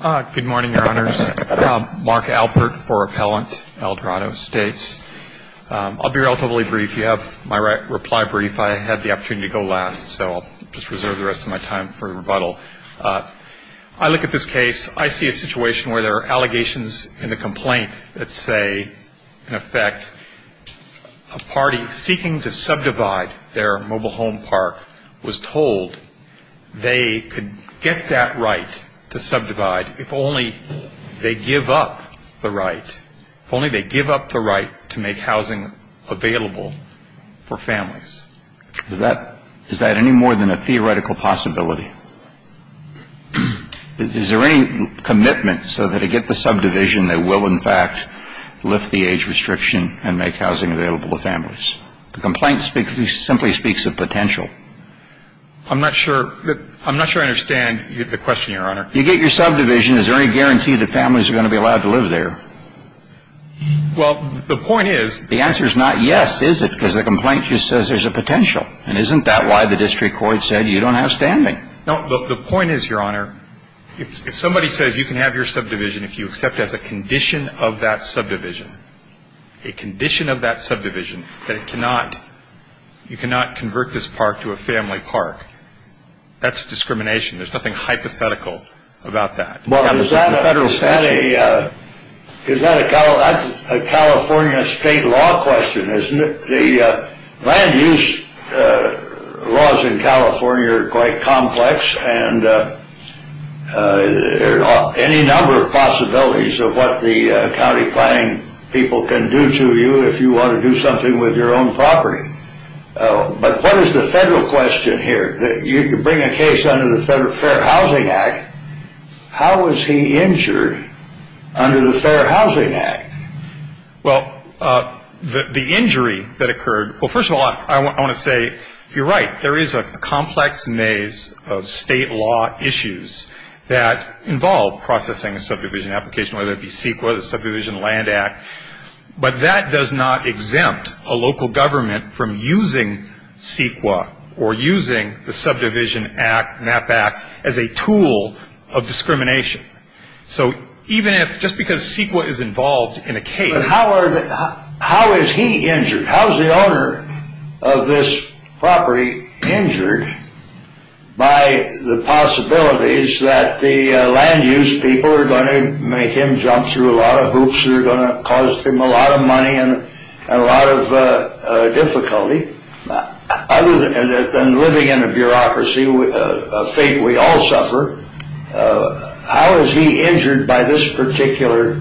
Good morning, Your Honors. Mark Alpert for Appellant, El Dorado Estates. I'll be relatively brief. You have my reply brief. I had the opportunity to go last, so I'll just reserve the rest of my time for rebuttal. I look at this case. I see a situation where there are allegations in the complaint that say, in effect, a party seeking to subdivide their home, if only they give up the right, if only they give up the right to make housing available for families. Is that any more than a theoretical possibility? Is there any commitment so that to get the subdivision, they will, in fact, lift the age restriction and make housing available to families? The complaint simply speaks of potential. I'm not sure I understand the question, Your Honor. You get your subdivision. Is there any guarantee that families are going to be allowed to live there? Well, the point is... The answer is not yes, is it? Because the complaint just says there's a potential. And isn't that why the district court said you don't have standing? No, the point is, Your Honor, if somebody says you can have your subdivision if you accept as a condition of that subdivision, a condition of that subdivision that it cannot, you cannot convert this park to a family park, that's discrimination. There's nothing hypothetical about that. Well, is that a... That's a California state law question, isn't it? The land use laws in California are quite complex, and there are any number of possibilities of what the county planning people can do to you if you want to do something with your own property. But what is the federal question here? You bring a case under the Fair Housing Act. How was he injured under the Fair Housing Act? Well, the injury that occurred... Well, first of all, I want to say you're right. There is a complex maze of state law issues that involve processing a subdivision application, whether it be CEQA, the Subdivision Land Act. But that does not exempt a local government from using CEQA or using the Subdivision Act, MAP Act, as a tool of discrimination. So even if, just because CEQA is involved in a case... But how is he injured? How is the owner of this property injured by the possibilities that the land use people are going to make him jump through a lot of hoops that are going to cost him a lot of money and a lot of difficulty other than living in a bureaucracy, a fate we all suffer, how is he injured by this particular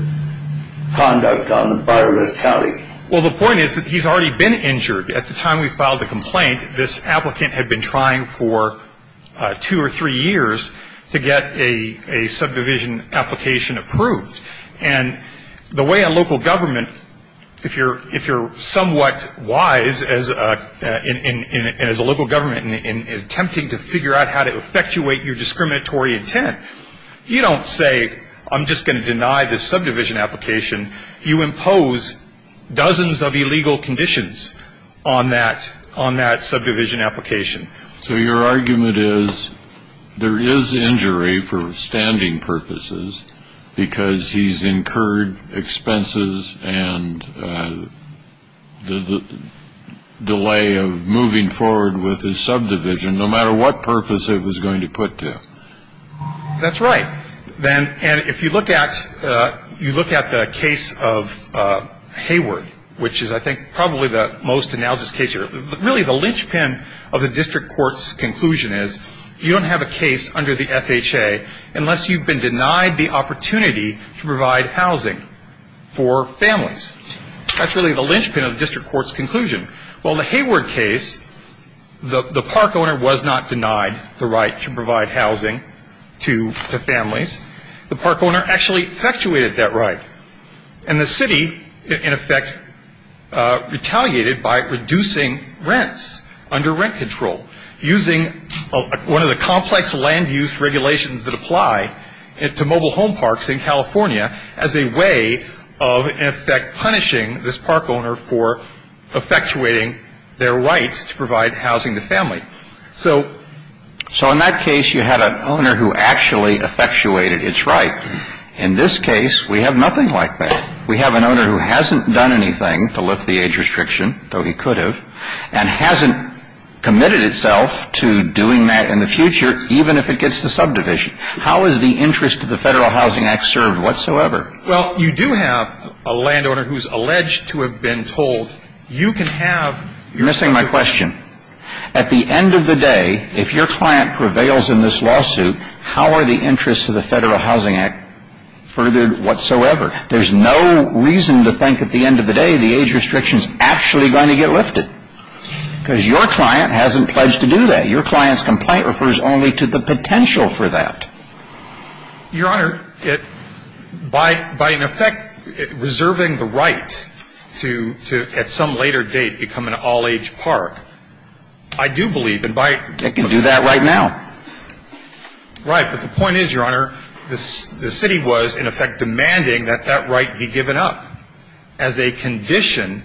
conduct on the bottom of the county? Well, the point is that he's already been injured. At the time we filed the complaint, this applicant had been trying for two or three years to get a subdivision application approved. And the way a local government, if you're somewhat wise as a local government in attempting to figure out how to effectuate your discriminatory intent, you don't say, I'm just going to deny this subdivision application. You impose dozens of illegal conditions on that subdivision application. So your argument is there is injury for standing purposes because he's incurred expenses and the delay of moving forward with his subdivision no matter what purpose it was going to put to. That's right. And if you look at the case of Hayward, which is I think probably the most analogous case here, really the linchpin of the district court's conclusion is you don't have a case under the FHA unless you've denied the opportunity to provide housing for families. That's really the linchpin of the district court's conclusion. Well, in the Hayward case, the park owner was not denied the right to provide housing to the families. The park owner actually effectuated that right. And the city, in effect, retaliated by reducing rents under rent control using one of the mobile home parks in California as a way of, in effect, punishing this park owner for effectuating their right to provide housing to family. So in that case, you had an owner who actually effectuated its right. In this case, we have nothing like that. We have an owner who hasn't done anything to lift the age restriction, though he could have, and hasn't committed itself to doing that in the future, even if it gets to subdivision. How is the interest of the Federal Housing Act served whatsoever? Well, you do have a landowner who's alleged to have been told, you can have your district. You're missing my question. At the end of the day, if your client prevails in this lawsuit, how are the interests of the Federal Housing Act furthered whatsoever? There's no reason to think at the end of the day the age restriction is actually going to get lifted, because your client hasn't pledged to do that. Your client's complaint refers only to the potential for that. Your Honor, by, in effect, reserving the right to, at some later date, become an all-age park, I do believe, and by... They can do that right now. Right. But the point is, Your Honor, the city was, in effect, demanding that that right be given up as a condition of the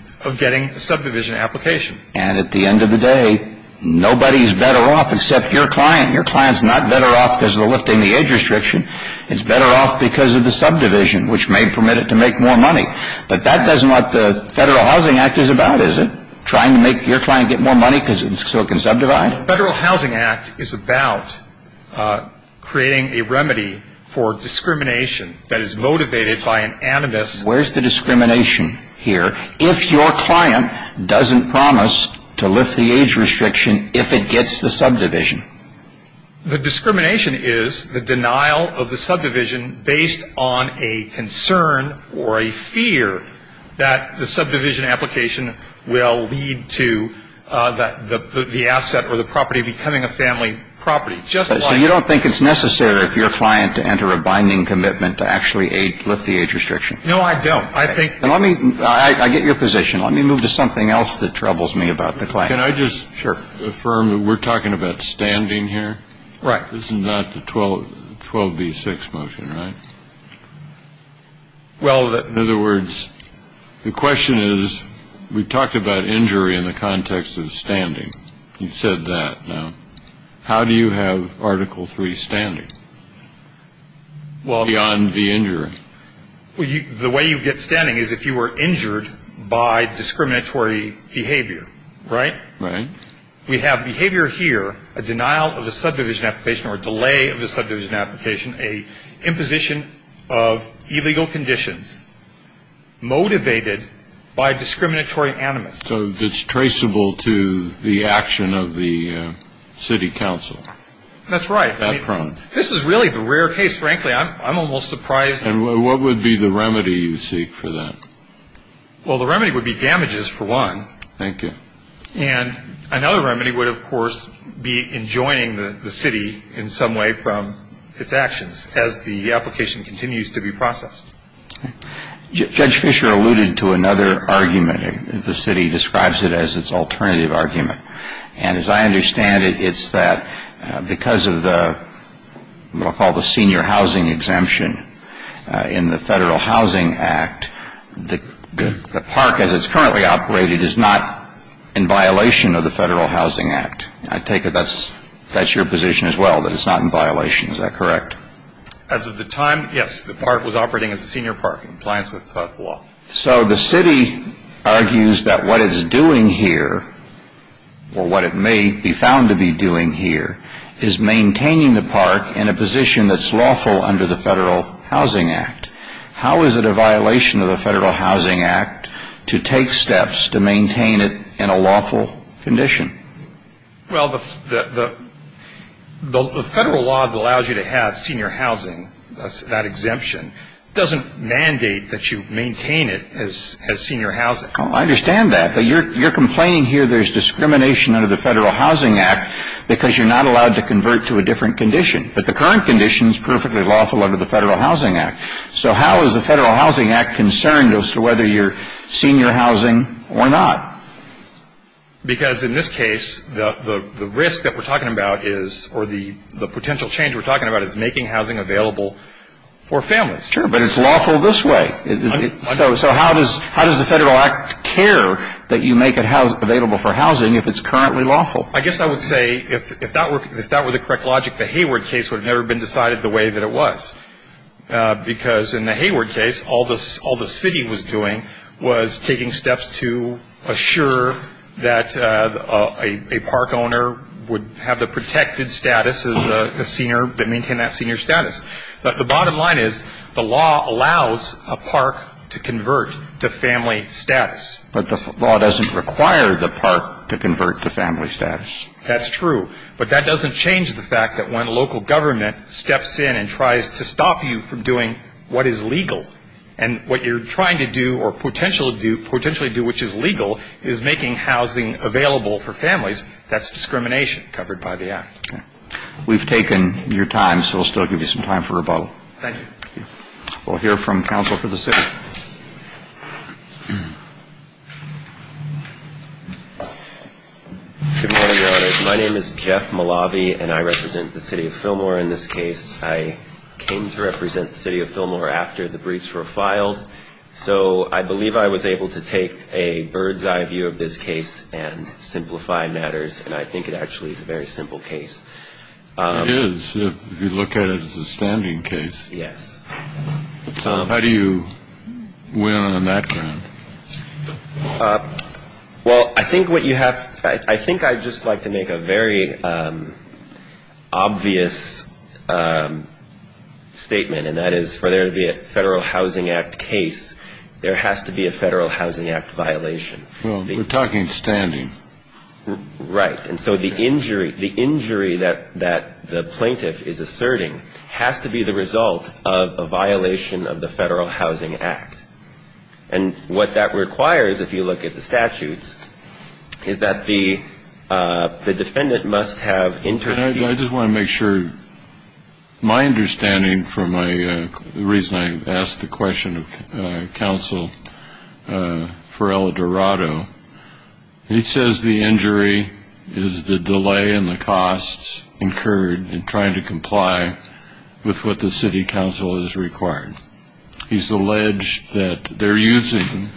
Federal Housing Act. And at the end of the day, nobody's better off except your client. Your client's not better off because of the lifting the age restriction. It's better off because of the subdivision, which may permit it to make more money. But that doesn't what the Federal Housing Act is about, is it? Trying to make your client get more money so it can subdivide? The Federal Housing Act is about creating a remedy for discrimination that is motivated by an animus... Where's the discrimination here, if your client doesn't promise to lift the age restriction if it gets the subdivision? The discrimination is the denial of the subdivision based on a concern or a fear that the subdivision application will lead to the asset or the property becoming a family property. Just like... So you don't think it's necessary for your client to enter a binding commitment to actually lift the age restriction? No, I don't. I think... And let me... I get your position. Let me move to something else that troubles me about the client. Can I just... Sure. ...affirm that we're talking about standing here? Right. This is not the 12B6 motion, right? Well, in other words, the question is, we talked about injury in the context of standing. You've said that now. How do you have Article 3 standing beyond the injury? Well, the way you get standing is if you were injured by discriminatory behavior, right? Right. We have behavior here, a denial of the subdivision application or a delay of the subdivision application, an imposition of illegal conditions motivated by discriminatory animus. So it's traceable to the action of the city council? That's right. That prone? This is really the rare case, frankly. I'm almost surprised... And what would be the remedy you seek for that? Well, the remedy would be damages, for one. Thank you. And another remedy would, of course, be enjoining the city in some way from its actions as the application continues to be processed. Judge Fisher alluded to another argument. The city describes it as its alternative argument. And as I understand it, it's that because of the, what I'll call the senior housing exemption in the Federal Housing Act, the park as it's currently operated is not in violation of the Federal Housing Act. I take it that's your position as well, that it's not in violation. Is that correct? As of the time, yes. The park was operating as a senior park in compliance with the law. So the city argues that what it's doing here, or what it may be found to be doing here, is maintaining the park in a position that's lawful under the Federal Housing Act. How is it a violation of the Federal Housing Act to take steps to maintain it in a lawful condition? Well, the Federal law allows you to have senior housing. That exemption doesn't mandate that you maintain it as senior housing. I understand that. But you're complaining here there's discrimination under the Federal Housing Act because you're not allowed to convert to a different condition. But the current condition is perfectly lawful under the Federal Housing Act. So how is the Federal Housing Act concerned as to whether you're senior housing or not? Because in this case, the risk that we're talking about is, or the potential change we're talking about, is making housing available for families. Sure, but it's lawful this way. So how does the Federal Act care that you make it available for housing if it's currently lawful? I guess I would say if that were the correct logic, the Hayward case would have never been decided the way that it was. Because in the Hayward case, all the city was doing was taking steps to assure that a park owner would have the protected status as a senior, to maintain that senior status. But the bottom line is, the law allows a park to convert to family status. But the law doesn't require the park to convert to family status. That's true. But that doesn't change the fact that when local government steps in and tries to stop you from doing what is legal, and what you're trying to do, or potentially do, which is legal, is making housing available for families, that's discrimination covered by the Act. Okay. We've taken your time, so we'll still give you some time for rebuttal. Thank you. We'll hear from counsel for the city. Good morning, Your Honor. My name is Jeff Malabi, and I represent the city of Fillmore in this case. I came to represent the city of Fillmore after the briefs were filed, so I believe I was able to take a bird's-eye view of this case and simplify matters, and I think it actually is a very simple case. It is, if you look at it as a standing case. Yes. How do you win on that ground? Well, I think what you have, I think I'd just like to make a very obvious statement, and that is for there to be a Federal Housing Act case, there has to be a Federal Housing Act violation. Well, we're talking standing. Right. And so the injury that the plaintiff is asserting has to be the result of a violation of the Federal Housing Act. And what that requires, if you look at the case, my understanding from the reason I asked the question of counsel for Eldorado, he says the injury is the delay in the costs incurred in trying to comply with what the city council has required. He's alleged that they're using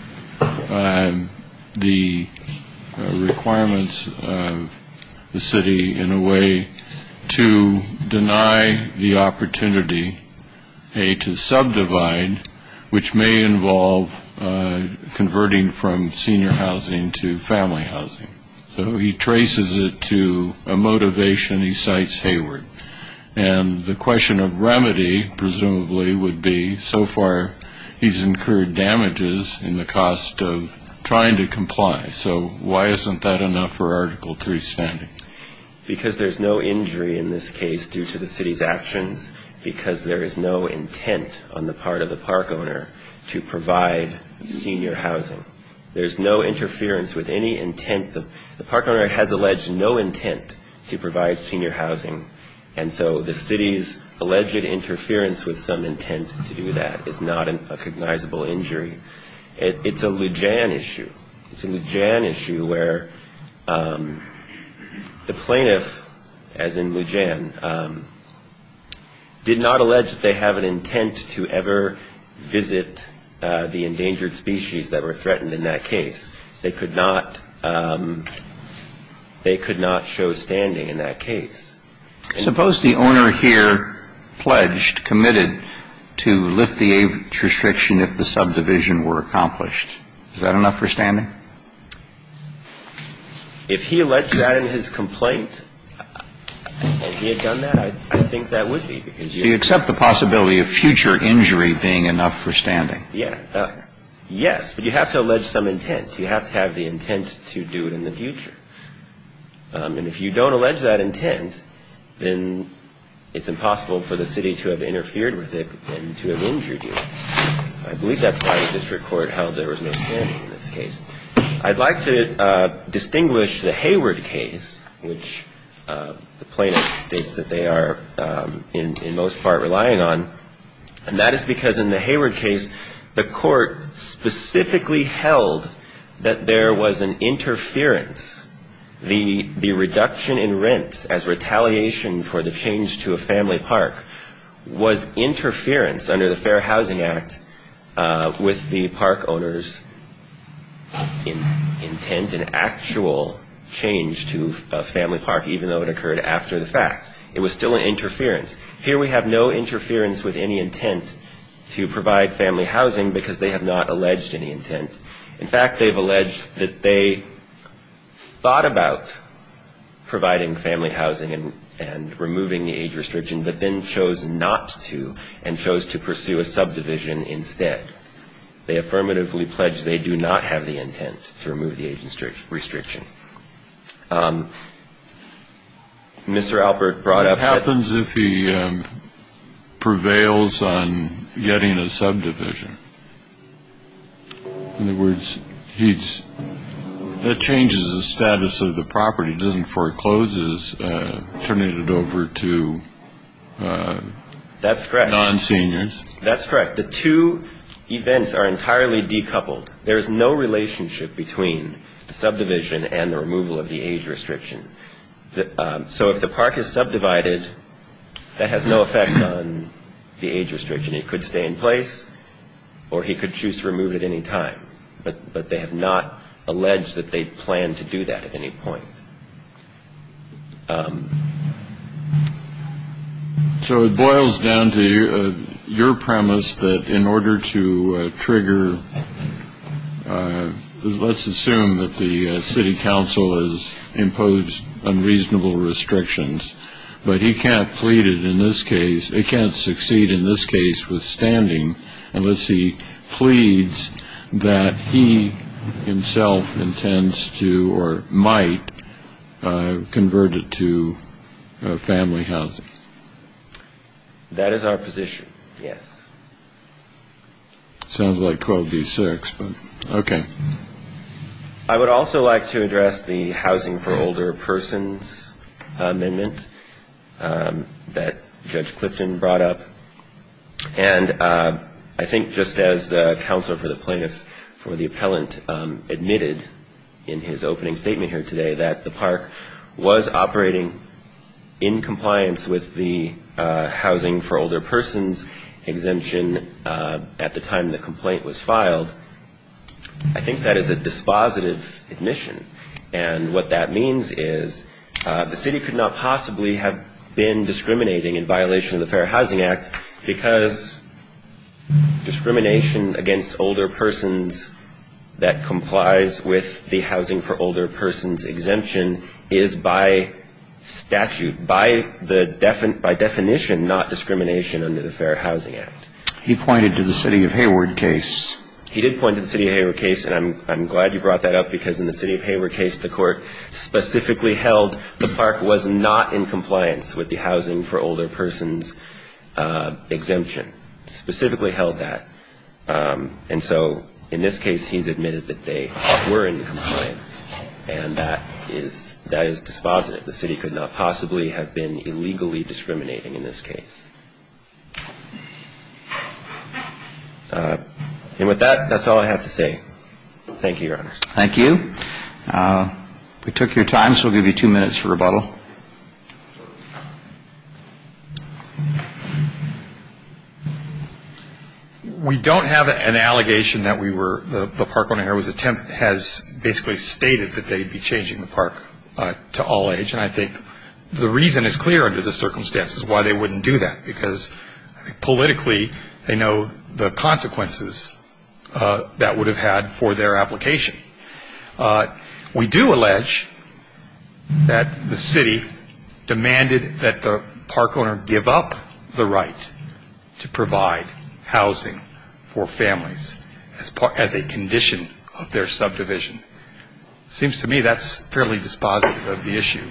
the requirements of the city in a way to deny the opportunity, A, to subdivide, which may involve converting from senior housing to family housing. So he traces it to a motivation. He cites Hayward. And the question of remedy, presumably, would be so far he's incurred damages in the cost of trying to comply. So why isn't that enough for Article 3 standing? Because there's no injury in this case due to the city's actions, because there is no intent on the part of the park owner to provide senior housing. There's no interference with any intent. The park owner has alleged no intent to provide senior housing, and so the city's alleged interference with some intent to prevent a recognizable injury. It's a Lujan issue. It's a Lujan issue where the plaintiff, as in Lujan, did not allege that they have an intent to ever visit the endangered species that were threatened in that case. They could not show standing in that case. Suppose the owner here pledged, committed to lift the age restriction if the subdivision were accomplished. Is that enough for standing? If he alleged that in his complaint and he had done that, I think that would be. Do you accept the possibility of future injury being enough for standing? Yes. But you have to allege some intent. You have to have the intent to do it in the future. And if you don't allege that intent, then it's impossible for the city to have interfered with it and to have injured you. I believe that's why the district court held there was no standing in this case. I'd like to distinguish the Hayward case, which the plaintiff states that they are in most part relying on, and that is because in the Hayward case, the court specifically held that there was an interference, the reduction in rents as retaliation for the change to a family park was interference under the Fair Housing Act with the park owner's intent and actual change to a family park, even though it occurred after the fact. It was still an interference. Here we have no interference with any intent to provide family housing because they have not alleged any intent. In fact, they've alleged that they thought about providing family housing and removing the age restriction, but then chose not to and chose to pursue a subdivision instead. They affirmatively pledged they do not have the intent to remove the age restriction. Mr. Albert brought up that... It happens if he prevails on getting a subdivision. In other words, that changes the status of the property. It doesn't foreclose it, turning it over to non-seniors. That's correct. The two events are entirely decoupled. There's no relationship between the subdivision and the removal of the age restriction. So if the park is subdivided, that has no effect on the age restriction. It could stay in place, or he could choose to remove it at any time. But they have not alleged that they plan to do that at any point. So it boils down to your premise that in order to trigger... Let's assume that the city council has imposed unreasonable restrictions, but he can't plead it in this case, he can't succeed in this case withstanding, unless he pleads that he himself intends to or might convert it to family housing. That is our position, yes. Sounds like 12B6, but okay. I would also like to address the housing for older persons amendment that Judge Clifton brought up. And I think just as the counsel for the plaintiff for the appellant admitted in his opening statement here today, that the park was operating in compliance with the housing for older persons exemption at the time the complaint was filed, I think that is a dispositive admission. And what that means is the city could not possibly have been discriminating in violation of the Fair Housing Act, because discrimination against older persons that complies with the housing for older persons exemption is by statute, by definition not discrimination under the Fair Housing Act. He pointed to the city of Hayward case. He did point to the city of Hayward case, and I'm glad you brought that up, because in the city of Hayward case the court specifically held the park was not in compliance with the housing for older persons exemption. Specifically held that. And so in this case he's admitted that they were in compliance, and that is dispositive. And the city could not possibly have been illegally discriminating in this case. And with that, that's all I have to say. Thank you, Your Honor. Thank you. We took your time, so we'll give you two minutes for rebuttal. We don't have an allegation that we were, the park owner here has basically stated that they'd be changing the park to all age. And I think the reason is clear under the circumstances why they wouldn't do that, because politically they know the consequences that would have had for their application. We do allege that the city demanded that the park owner give up the right to provide housing for families as a condition of their subdivision. It seems to me that's fairly dispositive of the issue.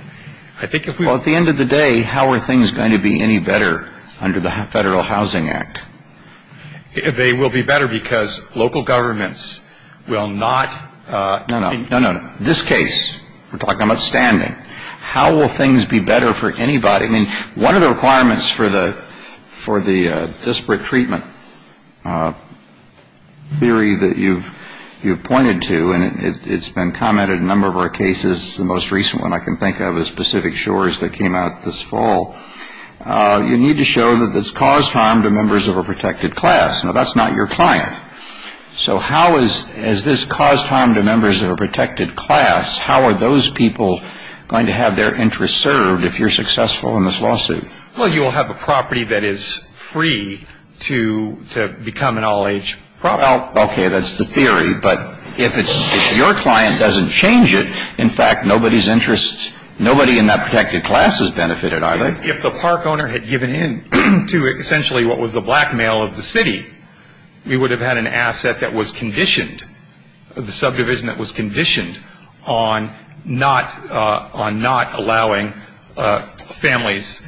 Well, at the end of the day, how are things going to be any better under the Federal Housing Act? They will be better because local governments will not No, no, no. This case, we're talking about standing. How will things be better for anybody? I mean, one of the requirements for the disparate treatment is that you have to show harm to members of a protected class. Now, that's not your client. So how is, has this caused harm to members of a protected class? How are those people going to have their interests served if you're successful in this lawsuit? Well, you'll have a property that is free to, you know, to become an all-age property. Well, okay, that's the theory, but if it's, if your client doesn't change it, in fact, nobody's interest, nobody in that protected class is benefited, are they? If the park owner had given in to essentially what was the blackmail of the city, we would have had an asset that was conditioned, the subdivision that was conditioned on not allowing families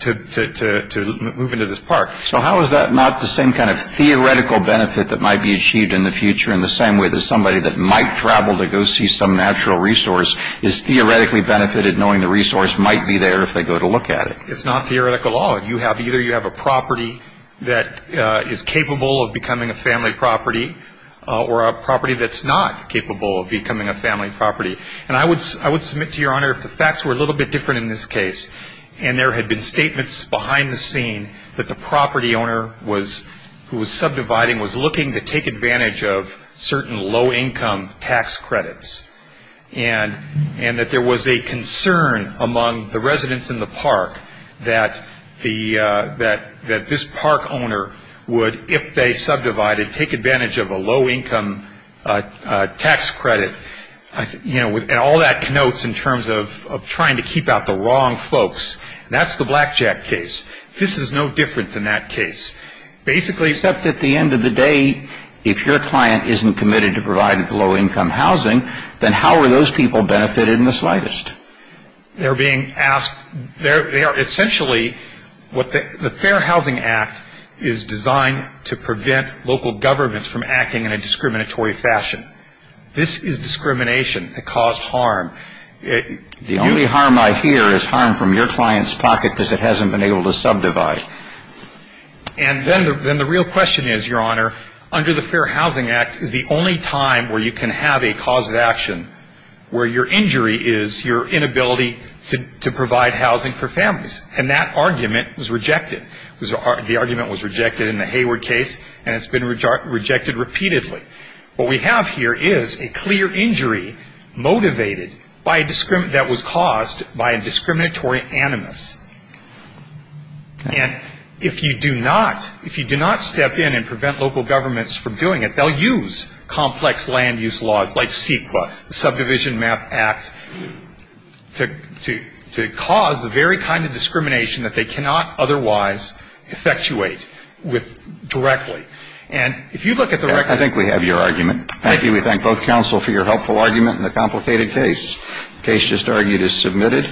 to move into this park. So how is that not the same kind of theoretical benefit that might be achieved in the future in the same way that somebody that might travel to go see some natural resource is theoretically benefited knowing the resource might be there if they go to look at it? It's not theoretical at all. Either you have a property that is capable of becoming a family property or a property that's not capable of becoming a family property. And I would submit to Your Honor if the facts were a little bit different in this case and there had been statements behind the scene that the property owner who was subdividing was looking to take advantage of certain low-income tax credits and that there was a concern among the residents in the park that this park owner would, if they subdivided, take advantage of a low-income tax credit. And all that connotes in terms of trying to keep out the wrong folks. That's the Blackjack case. This is no different than that case. Except at the end of the day, if your client isn't committed to providing low-income housing, then how are those people benefited in the slightest? They're being asked... Essentially, the Fair Housing Act is designed to prevent local governments from acting in a discriminatory fashion. This is discrimination that caused harm. The only harm I hear is harm from your client's pocket because it hasn't been able to subdivide. And then the real question is, Your Honor, under the Fair Housing Act, is the only time where you can have a cause of action where your injury is your inability to provide housing for families. And that argument was rejected. The argument was rejected in the Hayward case, and it's been rejected repeatedly. What we have here is a clear injury motivated, that was caused by a discriminatory animus. And if you do not step in and prevent local governments from doing it, they'll use complex land use laws like CEQA, the Subdivision Map Act, to cause the very kind of discrimination that they cannot otherwise effectuate directly. And if you look at the record... I think we have your argument. Thank you. We thank both counsel for your helpful argument in the complicated case. The case just argued is submitted.